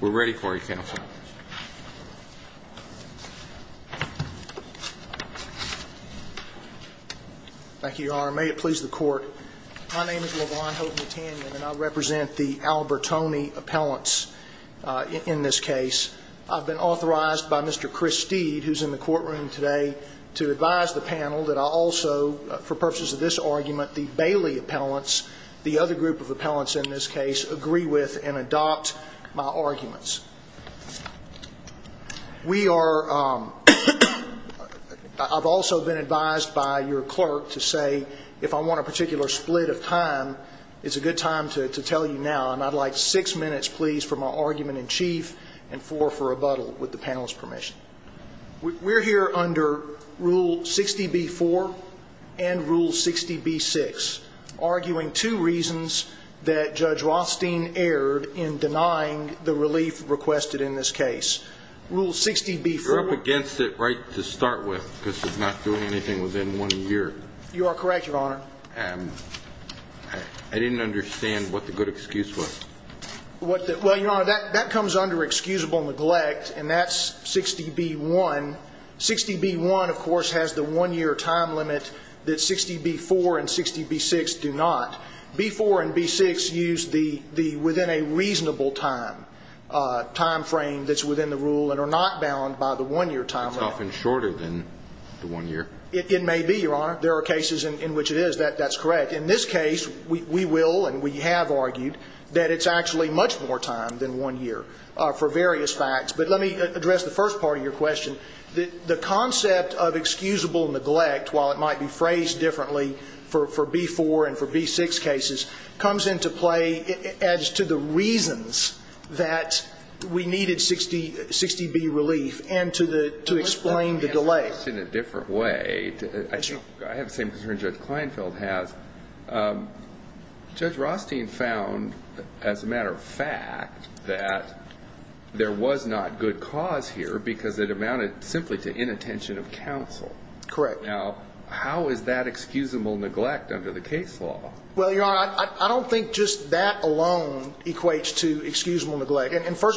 We're ready for you, Counsel. Thank you, Your Honor. May it please the Court. My name is LeVon Houghton Tannion, and I represent the Albertone appellants in this case. I've been authorized by Mr. Chris Steed, who's in the courtroom today, to advise the panel that I also, for purposes of this argument, the Bailey appellants, the other group of appellants in this case, agree with and adopt my arguments. I've also been advised by your clerk to say, if I want a particular split of time, it's a good time to tell you now. And I'd like six minutes, please, for my argument in chief and four for rebuttal, with the panel's permission. We're here under Rule 60b-4 and Rule 60b-6, arguing two reasons that Judge Rothstein erred in denying the relief requested in this case. Rule 60b-4... You're up against it right to start with, because it's not doing anything within one year. You are correct, Your Honor. I didn't understand what the good excuse was. Well, Your Honor, that comes under excusable neglect, and that's 60b-1. 60b-1, of course, has the one-year time limit that 60b-4 and 60b-6 do not. B-4 and B-6 use the within a reasonable time frame that's within the rule and are not bound by the one-year time limit. It's often shorter than the one year. It may be, Your Honor. There are cases in which it is. That's correct. In this case, we will and we have argued that it's actually much more time than one year for various facts. But let me address the first part of your question. The concept of excusable neglect, while it might be phrased differently for B-4 and for B-6 cases, comes into play as to the reasons that we needed 60b relief and to explain the delay. Let me ask the question a different way. I have the same concern Judge Kleinfeld has. Judge Rothstein found, as a matter of fact, that there was not good cause here because it amounted simply to inattention of counsel. Correct. Now, how is that excusable neglect under the case law? Well, Your Honor, I don't think just that alone equates to excusable neglect.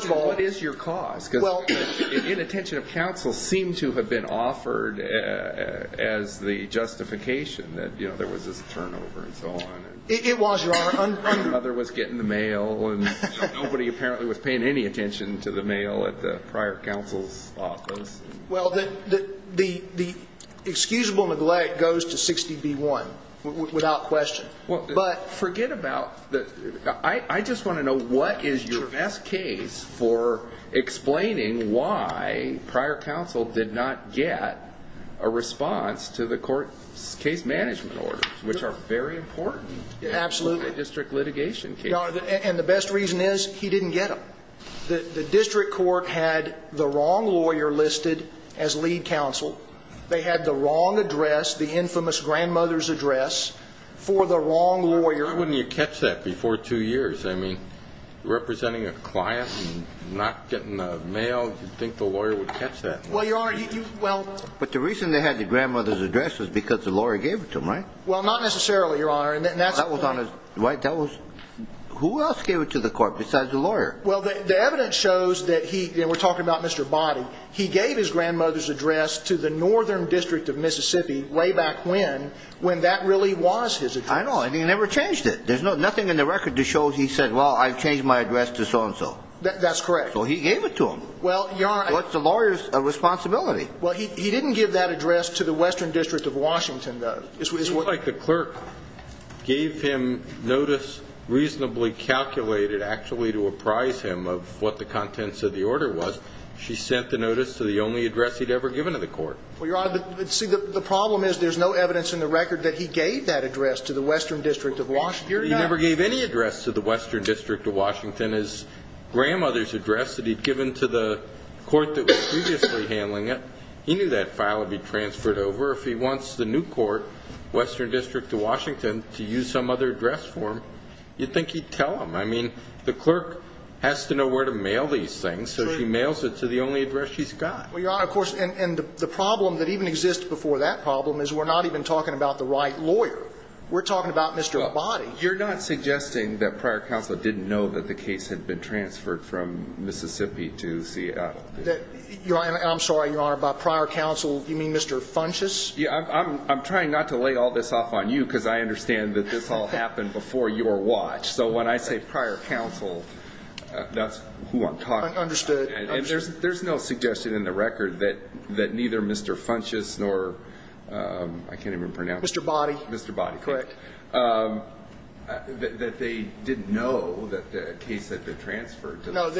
What is your cause? Because inattention of counsel seemed to have been offered as the justification that there was this turnover and so on. It was, Your Honor. My mother was getting the mail and nobody apparently was paying any attention to the mail at the prior counsel's office. Well, the excusable neglect goes to 60b-1 without question. But forget about that. I just want to know what is your best case for explaining why prior counsel did not get a response to the court's case management orders, which are very important in a district litigation case. Absolutely. And the best reason is he didn't get them. The district court had the wrong lawyer listed as lead counsel. They had the wrong address, the infamous grandmother's address, for the wrong lawyer. Why wouldn't you catch that before two years? I mean, representing a client and not getting the mail, you'd think the lawyer would catch that. Well, Your Honor, you – well – But the reason they had the grandmother's address was because the lawyer gave it to them, right? Well, not necessarily, Your Honor, and that's – That was on his – right? That was – who else gave it to the court besides the lawyer? Well, the evidence shows that he – and we're talking about Mr. Boddy. He gave his grandmother's address to the Northern District of Mississippi way back when, when that really was his address. I know, and he never changed it. There's nothing in the record that shows he said, well, I've changed my address to so-and-so. That's correct. So he gave it to them. Well, Your Honor – That's the lawyer's responsibility. Well, he didn't give that address to the Western District of Washington, though. It looks like the clerk gave him notice reasonably calculated actually to apprise him of what the contents of the order was. She sent the notice to the only address he'd ever given to the court. Well, Your Honor, see, the problem is there's no evidence in the record that he gave that address to the Western District of Washington. He never gave any address to the Western District of Washington. His grandmother's address that he'd given to the court that was previously handling it, he knew that file would be transferred over. If he wants the new court, Western District of Washington, to use some other address for him, you'd think he'd tell them. I mean, the clerk has to know where to mail these things, so she mails it to the only address she's got. Well, Your Honor, of course, and the problem that even exists before that problem is we're not even talking about the right lawyer. We're talking about Mr. Abadie. You're not suggesting that prior counsel didn't know that the case had been transferred from Mississippi to Seattle? I'm sorry, Your Honor, by prior counsel, you mean Mr. Funches? Yeah. I'm trying not to lay all this off on you because I understand that this all happened before your watch. So when I say prior counsel, that's who I'm talking about. Understood. And there's no suggestion in the record that neither Mr. Funches nor I can't even pronounce his name. Mr. Abadie. Mr. Abadie. Correct. That they didn't know that the case had been transferred. No.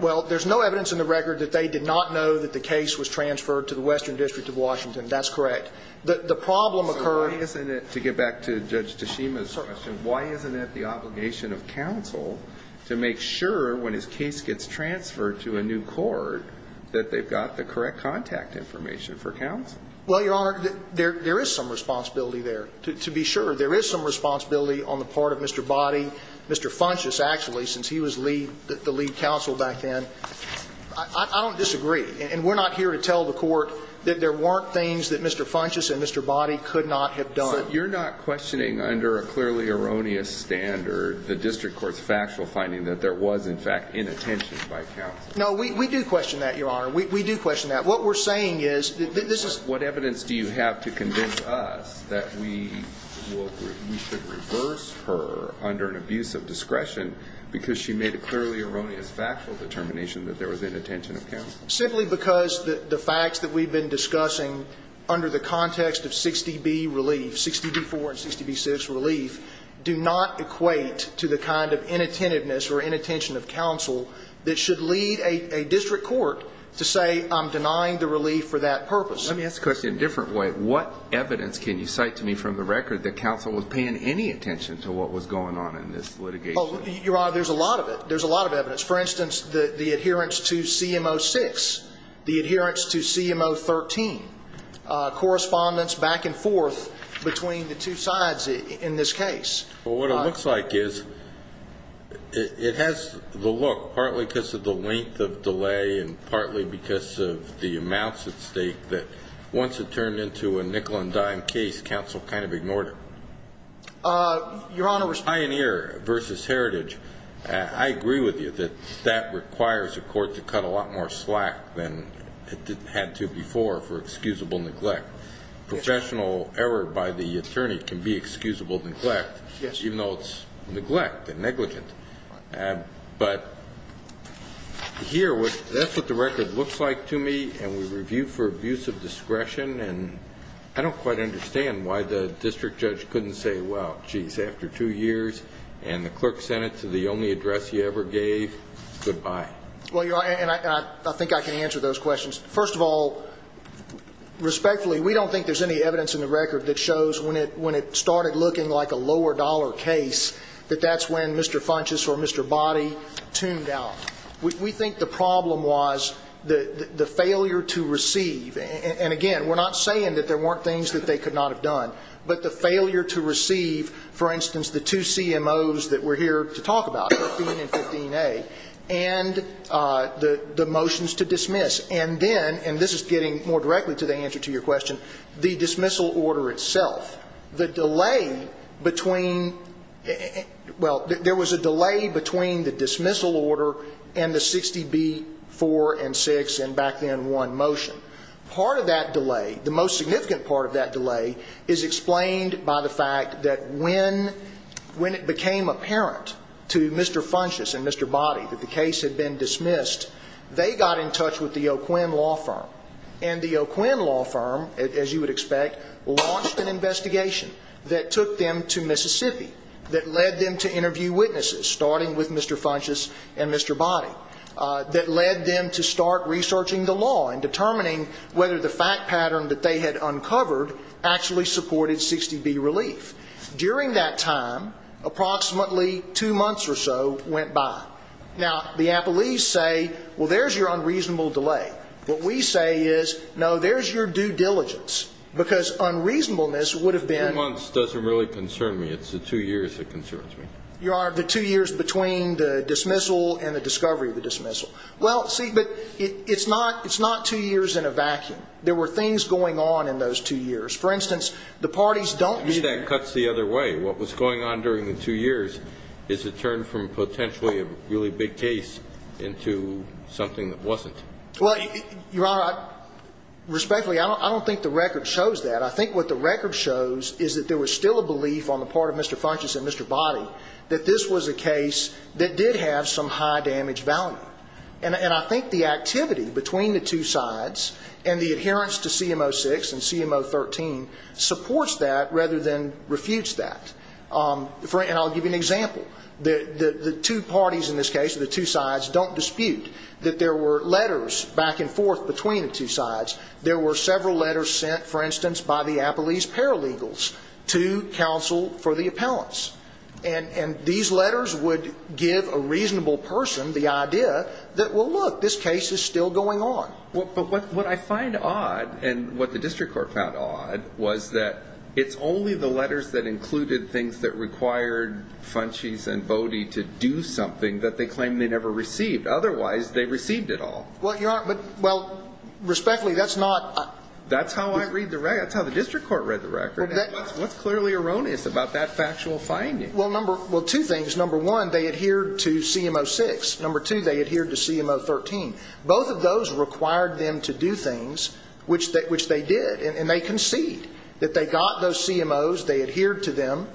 Well, there's no evidence in the record that they did not know that the case was transferred to the Western District of Washington. That's correct. The problem occurred. So why isn't it, to get back to Judge Tashima's question, why isn't it the obligation of counsel to make sure when his case gets transferred to a new court that they've got the correct contact information for counsel? Well, Your Honor, there is some responsibility there. To be sure, there is some responsibility on the part of Mr. Abadie, Mr. Funches, actually, since he was the lead counsel back then. I don't disagree. And we're not here to tell the Court that there weren't things that Mr. Funches and Mr. Abadie could not have done. So you're not questioning under a clearly erroneous standard the district court's factual finding that there was, in fact, inattention by counsel? No, we do question that, Your Honor. We do question that. What we're saying is that this is – What evidence do you have to convince us that we should reverse her under an abuse of discretion because she made a clearly erroneous factual determination that there was inattention of counsel? Simply because the facts that we've been discussing under the context of 60B relief, 60B-4 and 60B-6 relief, do not equate to the kind of inattentiveness or inattention of counsel that should lead a district court to say, I'm denying the relief for that purpose. Let me ask the question a different way. What evidence can you cite to me from the record that counsel was paying any attention to what was going on in this litigation? Your Honor, there's a lot of it. There's a lot of evidence. For instance, the adherence to CMO-6, the adherence to CMO-13, correspondence back and forth between the two sides in this case. Well, what it looks like is it has the look, partly because of the length of delay and partly because of the amounts at stake, that once it turned into a nickel-and-dime case, counsel kind of ignored it. Your Honor – Pioneer versus Heritage. I agree with you that that requires a court to cut a lot more slack than it had to before for excusable neglect. Professional error by the attorney can be excusable neglect, even though it's neglect and negligent. But here, that's what the record looks like to me, and we review for abuse of discretion, and I don't quite understand why the district judge couldn't say, well, geez, after two years, and the clerk sent it to the only address he ever gave, goodbye. Well, Your Honor, and I think I can answer those questions. First of all, respectfully, we don't think there's any evidence in the record that shows when it started looking like a lower-dollar case that that's when Mr. Funchess or Mr. Boddy tuned out. We think the problem was the failure to receive, and again, we're not saying that there weren't things that they could not have done, but the failure to receive, for instance, the two CMOs that we're here to talk about, 13 and 15A, and the motions to dismiss. And then, and this is getting more directly to the answer to your question, the dismissal order itself. The delay between, well, there was a delay between the dismissal order and the 60B-4 and 6 and back then 1 motion. Part of that delay, the most significant part of that delay, is explained by the fact that when it became apparent to Mr. Funchess and Mr. Boddy that the case had been dismissed, they got in touch with the O'Quinn Law Firm. And the O'Quinn Law Firm, as you would expect, launched an investigation that took them to Mississippi, that led them to interview witnesses, starting with Mr. Funchess and Mr. Boddy, that led them to start researching the law and determining whether the fact pattern that they had uncovered actually supported 60B relief. During that time, approximately two months or so went by. Now, the appellees say, well, there's your unreasonable delay. What we say is, no, there's your due diligence, because unreasonableness would have been ---- The two months doesn't really concern me. It's the two years that concerns me. Your Honor, the two years between the dismissal and the discovery of the dismissal. Well, see, but it's not two years in a vacuum. There were things going on in those two years. For instance, the parties don't ---- That cuts the other way. What was going on during the two years is it turned from potentially a really big case into something that wasn't. Well, Your Honor, respectfully, I don't think the record shows that. I think what the record shows is that there was still a belief on the part of Mr. Funchess and Mr. Boddy that this was a case that did have some high damage value. And I think the activity between the two sides and the adherence to CMO 6 and CMO 13 supports that rather than refutes that. And I'll give you an example. The two parties in this case, or the two sides, don't dispute that there were letters back and forth between the two sides. There were several letters sent, for instance, by the appellees' paralegals to counsel for the appellants. And these letters would give a reasonable person the idea that, well, look, this case is still going on. But what I find odd, and what the district court found odd, was that it's only the letters that included things that required Funchess and Boddy to do something that they claim they never received. Otherwise, they received it all. Well, Your Honor, but, well, respectfully, that's not ---- That's how I read the record. That's how the district court read the record. What's clearly erroneous about that factual finding? Well, two things. Number one, they adhered to CMO 6. Number two, they adhered to CMO 13. Both of those required them to do things, which they did. And they concede that they got those CMOs. They adhered to them.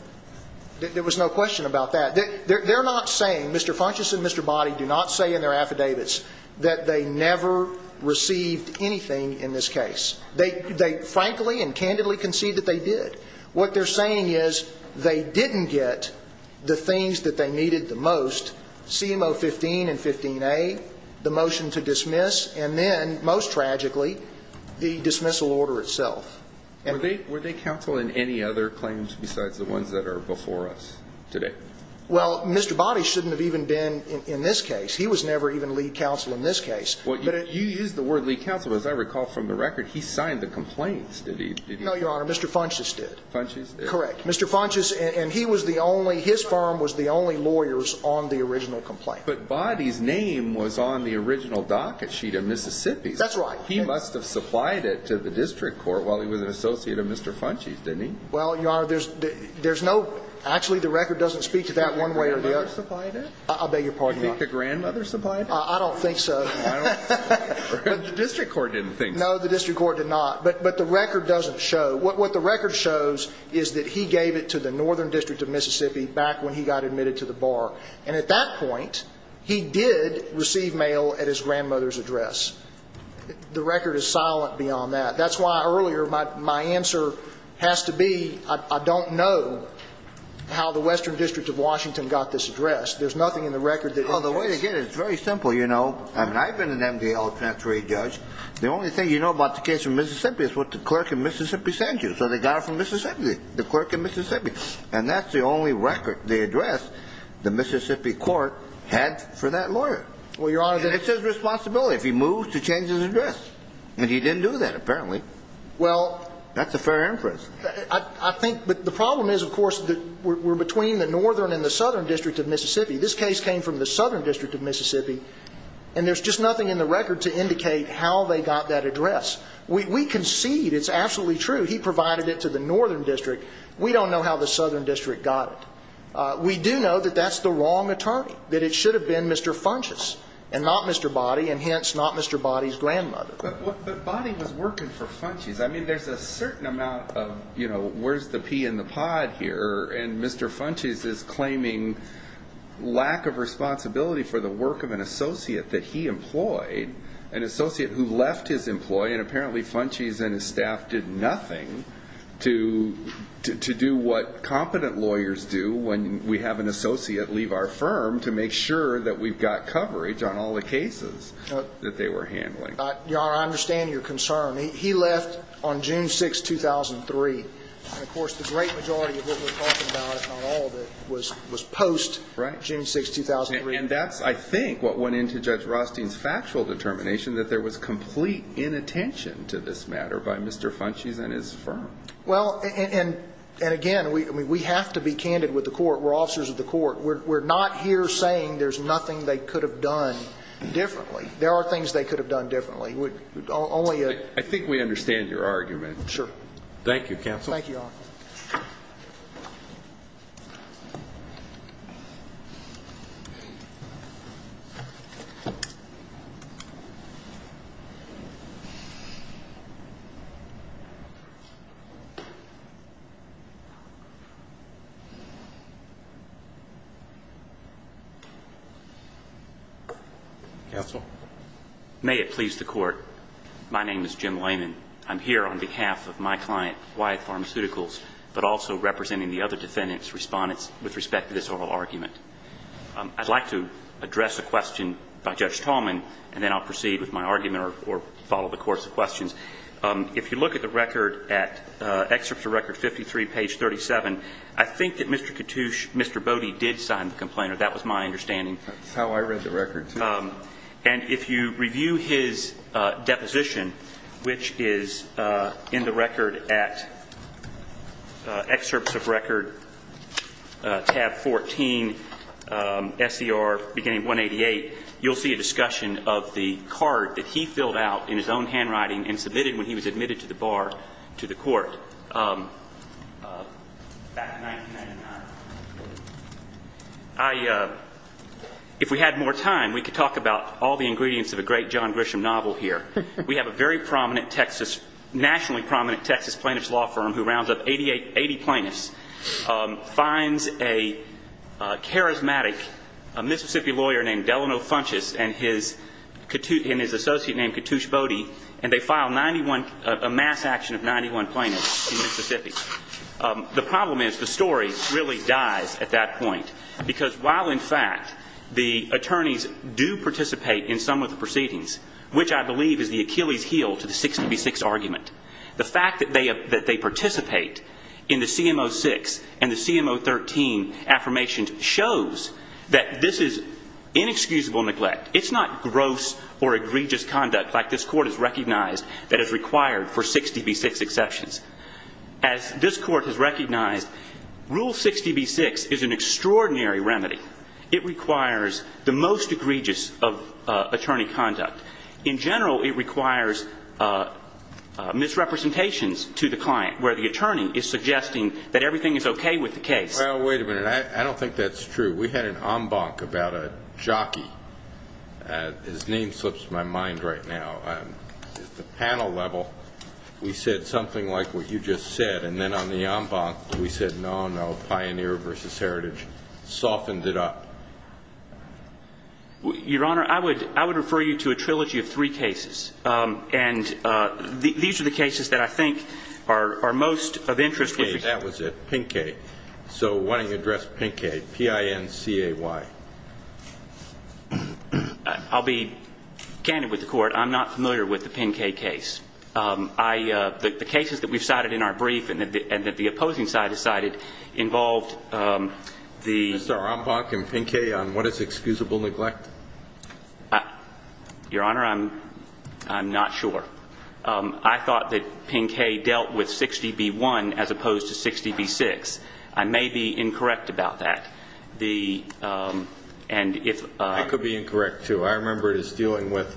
There was no question about that. They're not saying, Mr. Funchess and Mr. Boddy do not say in their affidavits that they never received anything in this case. They frankly and candidly concede that they did. What they're saying is they didn't get the things that they needed the most, CMO 15 and 15A, the motion to dismiss, and then, most tragically, the dismissal order itself. Were they counsel in any other claims besides the ones that are before us today? Well, Mr. Boddy shouldn't have even been in this case. He was never even lead counsel in this case. Well, you used the word lead counsel. As I recall from the record, he signed the complaints, did he? No, Your Honor. Mr. Funchess did. Funchess did. Correct. Mr. Funchess and he was the only ‑‑ his firm was the only lawyers on the original complaint. But Boddy's name was on the original docket sheet of Mississippi's. That's right. He must have supplied it to the district court while he was an associate of Mr. Funchess, didn't he? Well, Your Honor, there's no ‑‑ actually, the record doesn't speak to that one way or the other. Do you think the grandmother supplied it? I beg your pardon, Your Honor. Do you think the grandmother supplied it? I don't think so. The district court didn't think so. No, the district court did not. But the record doesn't show. What the record shows is that he gave it to the northern district of Mississippi back when he got admitted to the bar. And at that point, he did receive mail at his grandmother's address. The record is silent beyond that. That's why earlier my answer has to be I don't know how the western district of Washington got this address. There's nothing in the record that ‑‑ Well, the way to get it is very simple, you know. I mean, I've been an MDL transferee judge. The only thing you know about the case from Mississippi is what the clerk in Mississippi sent you. So they got it from Mississippi, the clerk in Mississippi. And that's the only record, the address, the Mississippi court had for that lawyer. Well, Your Honor, the ‑‑ And it's his responsibility. If he moves to change his address, and he didn't do that apparently, that's a fair inference. I think ‑‑ but the problem is, of course, we're between the northern and the southern district of Mississippi. This case came from the southern district of Mississippi, and there's just nothing in the record to indicate how they got that address. We concede it's absolutely true. He provided it to the northern district. We don't know how the southern district got it. We do know that that's the wrong attorney, that it should have been Mr. Funches and not Mr. Boddy, and hence not Mr. Boddy's grandmother. But Boddy was working for Funches. I mean, there's a certain amount of, you know, where's the pea in the pod here, and Mr. Funches is claiming lack of responsibility for the work of an associate that he employed, an associate who left his employee, and apparently Funches and his staff did nothing to do what competent lawyers do when we have an associate leave our firm to make sure that we've got coverage on all the cases that they were handling. Your Honor, I understand your concern. He left on June 6, 2003. And, of course, the great majority of what we're talking about, if not all of it, was post-June 6, 2003. And that's, I think, what went into Judge Rothstein's factual determination, that there was complete inattention to this matter by Mr. Funches and his firm. Well, and again, we have to be candid with the Court. We're officers of the Court. We're not here saying there's nothing they could have done differently. There are things they could have done differently. Only a – I think we understand your argument. Sure. Thank you, Counsel. Thank you, Your Honor. Counsel. May it please the Court, my name is Jim Lehman. I'm here on behalf of my client, Wyatt Pharmaceuticals, but also representing the other defendants' respondents with respect to this oral argument. I'd like to address a question by Judge Tallman, and then I'll proceed with my argument or follow the course of questions. If you look at the record at Excerpt to Record 53, page 37, I think that Mr. Katouche, Mr. Bode, did sign the complaint, or that was my understanding. That's how I read the record, too. And if you review his deposition, which is in the record at Excerpts of Record tab 14, S.E.R. beginning of 188, you'll see a discussion of the card that he filled out in his own handwriting and submitted when he was admitted to the bar to the Court back in 1999. If we had more time, we could talk about all the ingredients of a great John Grisham novel here. We have a very prominent Texas, nationally prominent Texas plaintiff's law firm who rounds up 80 plaintiffs, finds a charismatic Mississippi lawyer named Delano Funchess and his associate named Katouche Bode, and they file a mass action of 91 plaintiffs in Mississippi. The problem is the story really dies at that point because while, in fact, the attorneys do participate in some of the proceedings, which I believe is the Achilles heel to the 6dv6 argument, the fact that they participate in the CMO 6 and the CMO 13 affirmations shows that this is inexcusable neglect. It's not gross or egregious conduct like this Court has recognized that is required for 6dv6 exceptions. As this Court has recognized, Rule 6dv6 is an extraordinary remedy. It requires the most egregious of attorney conduct. In general, it requires misrepresentations to the client where the attorney is suggesting that everything is okay with the case. Well, wait a minute. I don't think that's true. We had an en banc about a jockey. His name slips my mind right now. At the panel level, we said something like what you just said. And then on the en banc, we said, no, no, Pioneer v. Heritage softened it up. Your Honor, I would refer you to a trilogy of three cases. And these are the cases that I think are most of interest. Okay. That was it. Pinquet. So why don't you address Pinquet, P-I-N-C-A-Y. I'll be candid with the Court. I'm not familiar with the Pinquet case. The cases that we've cited in our brief and that the opposing side has cited involved the ---- Mr. En banc and Pinquet on what is excusable neglect? Your Honor, I'm not sure. I thought that Pinquet dealt with 6dv1 as opposed to 6dv6. I may be incorrect about that. And if ---- I could be incorrect, too. I remember it as dealing with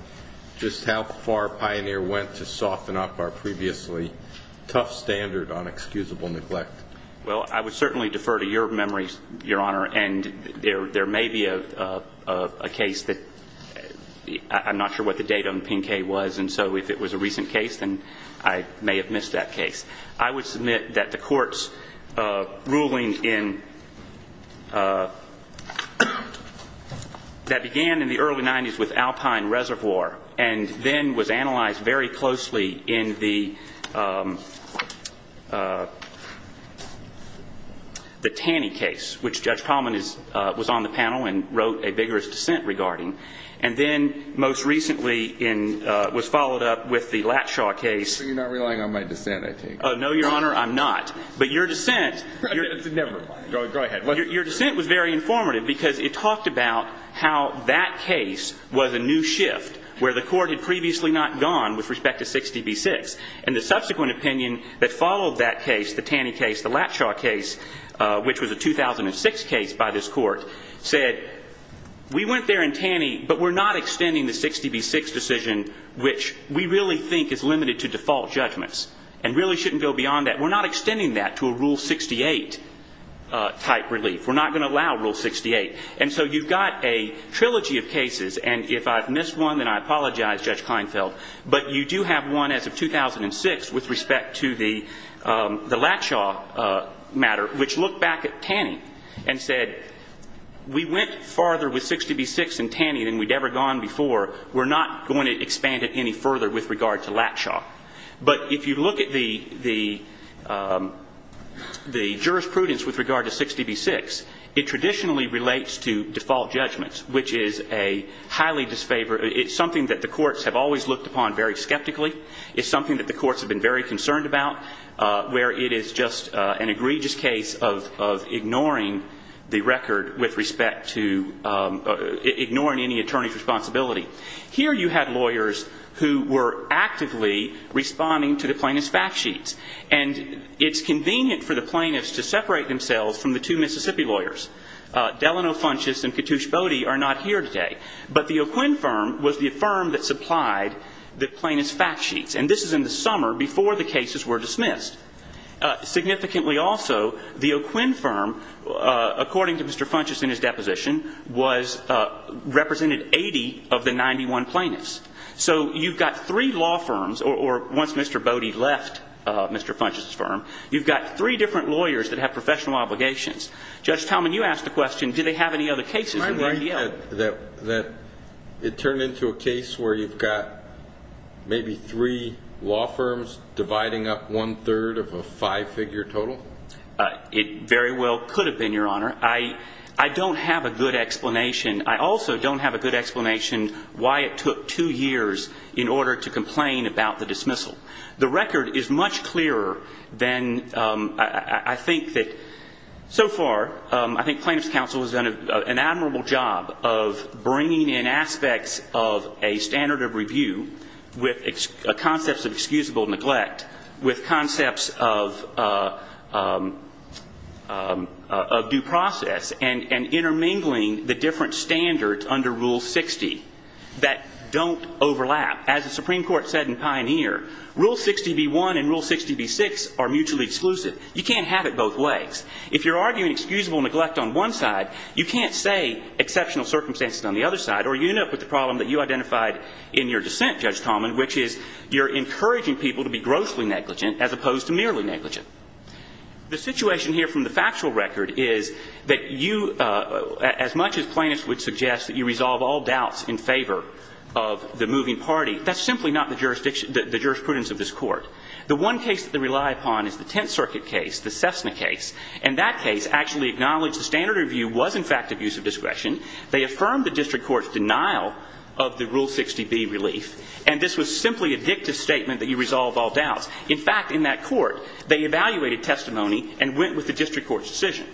just how far Pioneer went to soften up our previously tough standard on excusable neglect. Well, I would certainly defer to your memories, Your Honor, and there may be a case that I'm not sure what the date on Pinquet was, and so if it was a recent case, then I may have missed that case. I would submit that the Court's ruling in ---- that began in the early 90s with Alpine Reservoir and then was analyzed very closely in the Taney case, which Judge Palman is ---- was on the panel and wrote a vigorous dissent regarding. And then most recently in ---- was followed up with the Latshaw case. So you're not relying on my dissent, I take it? No, Your Honor, I'm not. But your dissent ---- Never mind. Go ahead. Your dissent was very informative because it talked about how that case was a new shift where the Court had previously not gone with respect to 6dv6. And the subsequent opinion that followed that case, the Taney case, the Latshaw case, which was a 2006 case by this Court, said we went there in Taney, but we're not extending the 6dv6 decision, which we really think is limited to default judgments and really shouldn't go beyond that. We're not extending that to a Rule 68 type relief. We're not going to allow Rule 68. And so you've got a trilogy of cases, and if I've missed one, then I apologize, Judge Kleinfeld, but you do have one as of 2006 with respect to the Latshaw matter, which looked back at Taney and said we went farther with 6dv6 in Taney than we'd ever gone before. We're not going to expand it any further with regard to Latshaw. But if you look at the jurisprudence with regard to 6dv6, it traditionally relates to default judgments, which is a highly disfavored ---- it's something that the courts have always looked upon very skeptically. It's something that the courts have been very concerned about, where it is just an egregious case of ignoring the record with respect to ignoring any attorney's responsibility. Here you had lawyers who were actively responding to the plaintiff's fact sheets, and it's convenient for the plaintiffs to separate themselves from the two Mississippi lawyers. Delano Funchess and Katush Bode are not here today. But the O'Quinn firm was the firm that supplied the plaintiff's fact sheets, and this is in the summer before the cases were dismissed. Significantly also, the O'Quinn firm, according to Mr. Funchess in his deposition, represented 80 of the 91 plaintiffs. So you've got three law firms, or once Mr. Bode left Mr. Funchess's firm, you've got three different lawyers that have professional obligations. Judge Talman, you asked the question, did they have any other cases in their deal? It turned into a case where you've got maybe three law firms dividing up one-third of a five-figure total? It very well could have been, Your Honor. I don't have a good explanation. I also don't have a good explanation why it took two years in order to complain about the dismissal. The record is much clearer than I think that so far I think plaintiff's counsel has done an admirable job of bringing in aspects of a standard of review with concepts of excusable neglect, with concepts of due process, and intermingling the different standards under Rule 60 that don't overlap. Now, as the Supreme Court said in Pioneer, Rule 60b-1 and Rule 60b-6 are mutually exclusive. You can't have it both ways. If you're arguing excusable neglect on one side, you can't say exceptional circumstances on the other side, or you end up with the problem that you identified in your dissent, Judge Talman, which is you're encouraging people to be grossly negligent as opposed to merely negligent. The situation here from the factual record is that you, as much as plaintiffs would suggest, that you resolve all doubts in favor of the moving party, that's simply not the jurisprudence of this Court. The one case that they rely upon is the Tenth Circuit case, the Cessna case, and that case actually acknowledged the standard of review was in fact abuse of discretion. They affirmed the district court's denial of the Rule 60b relief, and this was simply a dictative statement that you resolve all doubts. In fact, in that court, they evaluated testimony and went with the district court's decision.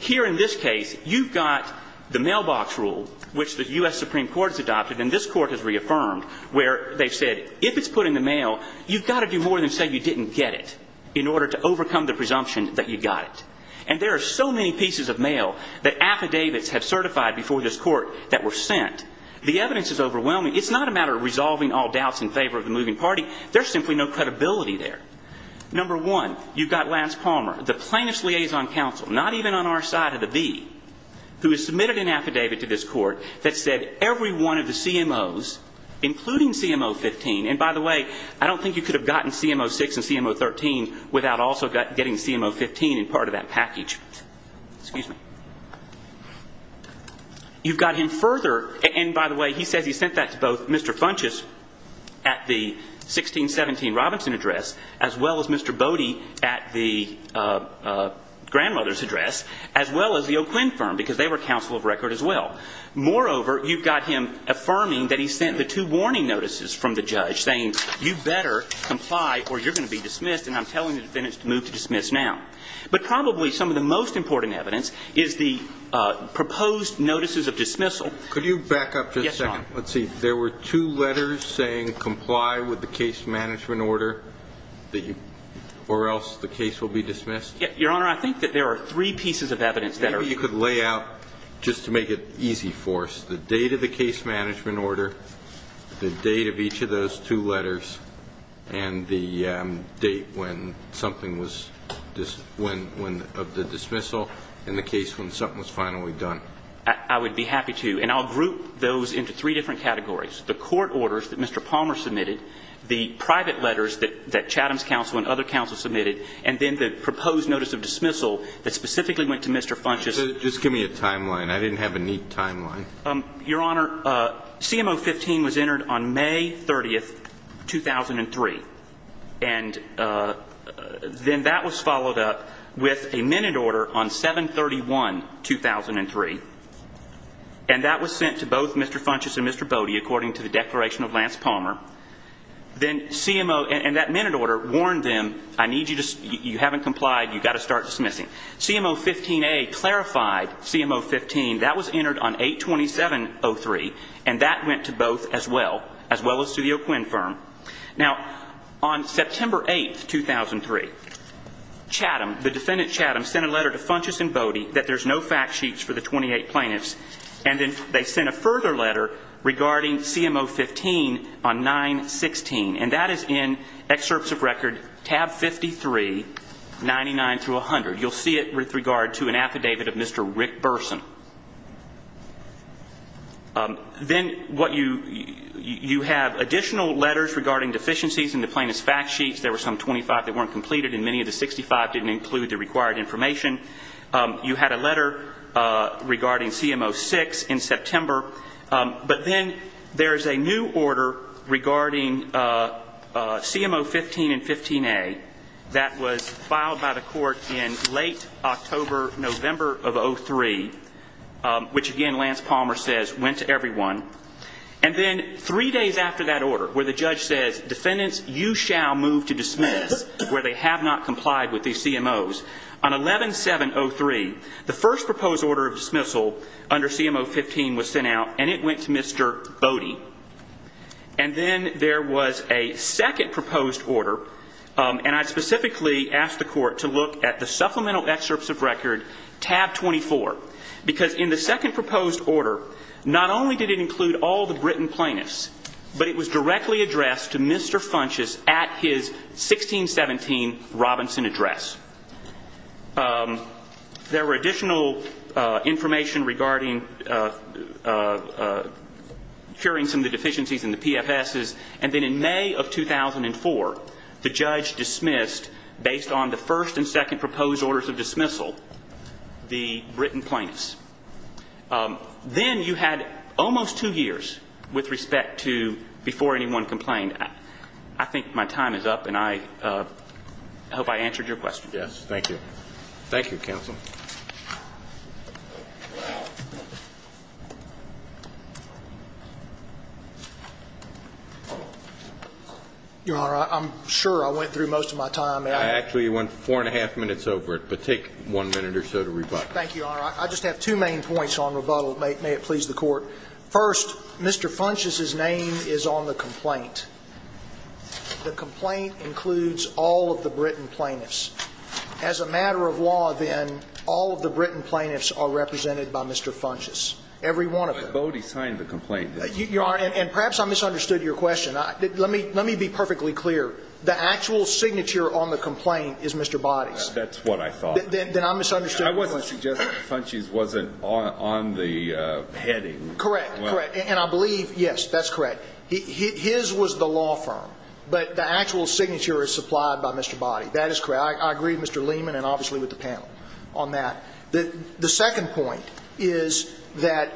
Here in this case, you've got the mailbox rule, which the U.S. Supreme Court has adopted, and this Court has reaffirmed, where they said if it's put in the mail, you've got to do more than say you didn't get it in order to overcome the presumption that you got it. And there are so many pieces of mail that affidavits have certified before this Court that were sent. The evidence is overwhelming. It's not a matter of resolving all doubts in favor of the moving party. There's simply no credibility there. Number one, you've got Lance Palmer, the plaintiff's liaison counsel, not even on our side of the V, who has submitted an affidavit to this Court that said every one of the CMOs, including CMO 15, and by the way, I don't think you could have gotten CMO 6 and CMO 13 without also getting CMO 15 in part of that package. Excuse me. You've got him further, and by the way, he says he sent that to both Mr. Funchess at the 1617 Robinson address, as well as Mr. Bode at the grandmother's address, as well as the O'Quinn firm, because they were counsel of record as well. Moreover, you've got him affirming that he sent the two warning notices from the judge saying, you better comply or you're going to be dismissed, and I'm telling the defendants to move to dismiss now. But probably some of the most important evidence is the proposed notices of dismissal. Could you back up for a second? Yes, Your Honor. Let's see. There were two letters saying comply with the case management order, or else the case will be dismissed? Your Honor, I think that there are three pieces of evidence that are... Maybe you could lay out, just to make it easy for us, the date of the case management order, the date of each of those two letters, and the date when something was, of the dismissal, and the case when something was finally done. I would be happy to. And I'll group those into three different categories, the court orders that Mr. Palmer submitted, the private letters that Chatham's counsel and other counsel submitted, and then the proposed notice of dismissal that specifically went to Mr. Funchess. Just give me a timeline. I didn't have a neat timeline. Your Honor, CMO 15 was entered on May 30, 2003, and then that was followed up with a minute order on 7-31-2003. And that was sent to both Mr. Funchess and Mr. Bode, according to the declaration of Lance Palmer. Then CMO, and that minute order warned them, I need you to, you haven't complied, you've got to start dismissing. CMO 15A clarified CMO 15, that was entered on 8-27-03, and that went to both as well, as well as to the O'Quinn firm. Now, on September 8, 2003, Chatham, the defendant Chatham, sent a letter to Funchess and Bode that there's no fact sheets for the 28 plaintiffs, and then they sent a further letter regarding CMO 15 on 9-16, and that is in excerpts of record tab 53, 99-100. You'll see it with regard to an affidavit of Mr. Rick Burson. Then what you, you have additional letters regarding deficiencies in the plaintiff's fact sheets. There were some 25 that weren't completed, and many of the 65 didn't include the required information. You had a letter regarding CMO 6 in September, but then there's a new order regarding CMO 15 and 15A that was filed by the court in late October, November of 03, which, again, Lance Palmer says went to everyone. And then three days after that order, where the judge says, defendants, you shall move to dismiss, where they have not complied with these CMOs, on 11-7-03, the first proposed order of dismissal under CMO 15 was sent out, and it went to Mr. Bode. And then there was a second proposed order, and I specifically asked the court to look at the supplemental excerpts of record tab 24, because in the second proposed order, not only did it include all the Britain plaintiffs, but it was directly addressed to Mr. Funchess at his 16-17 Robinson address. There were additional information regarding curing some of the deficiencies in the PFSs, and then in May of 2004, the judge dismissed, based on the first and second proposed orders of dismissal, the Britain plaintiffs. Then you had almost two years with respect to before anyone complained. I think my time is up, and I hope I answered your question. Yes. Thank you. Thank you, counsel. Your Honor, I'm sure I went through most of my time. Actually, you went four and a half minutes over it, but take one minute or so to rebut. Thank you, Your Honor. I just have two main points on rebuttal. May it please the Court. First, Mr. Funchess's name is on the complaint. The complaint includes all of the Britain plaintiffs. As a matter of law, then, all of the Britain plaintiffs are represented by Mr. Funchess, every one of them. But Bode signed the complaint. Your Honor, and perhaps I misunderstood your question. Let me be perfectly clear. The actual signature on the complaint is Mr. Bode's. That's what I thought. Then I misunderstood. I wasn't suggesting that Funchess wasn't on the heading. Correct, correct. And I believe, yes, that's correct. His was the law firm. But the actual signature is supplied by Mr. Bode. That is correct. I agree with Mr. Lehman and obviously with the panel on that. The second point is that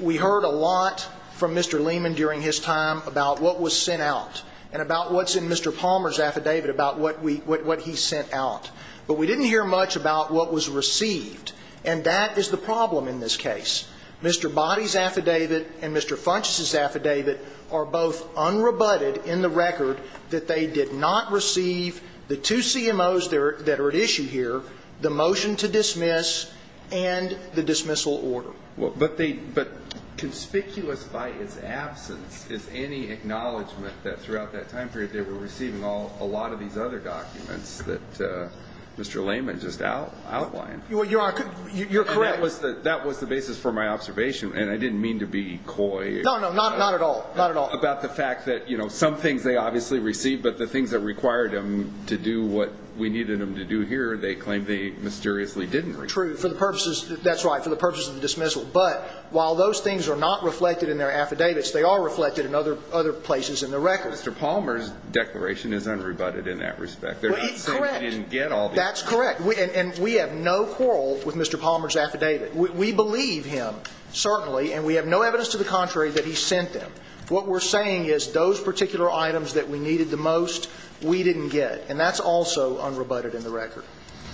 we heard a lot from Mr. Lehman during his time about what was sent out and about what's in Mr. Palmer's affidavit about what he sent out. But we didn't hear much about what was received. And that is the problem in this case. Mr. Bode's affidavit and Mr. Funchess's affidavit are both unrebutted in the record that they did not receive the two CMOs that are at issue here, the motion to dismiss and the dismissal order. But they – but conspicuous by its absence is any acknowledgment that throughout that time period they were receiving a lot of these other documents that Mr. Lehman just outlined. You're correct. That was the basis for my observation. And I didn't mean to be coy. No, no, not at all, not at all. About the fact that, you know, some things they obviously received, but the things that required them to do what we needed them to do here they claimed they mysteriously didn't receive. True, for the purposes – that's right, for the purposes of the dismissal. But while those things are not reflected in their affidavits, they are reflected in other places in the record. Mr. Palmer's declaration is unrebutted in that respect. Correct. They're not saying they didn't get all these. That's correct. And we have no quarrel with Mr. Palmer's affidavit. We believe him, certainly, and we have no evidence to the contrary that he sent them. What we're saying is those particular items that we needed the most we didn't get. And that's also unrebutted in the record.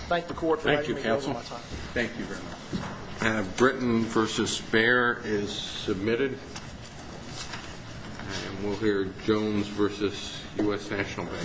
Thank the Court for letting me go over my time. Thank you, counsel. Thank you very much. And Britain v. Bayer is submitted. And we'll hear Jones v. U.S. National Bank.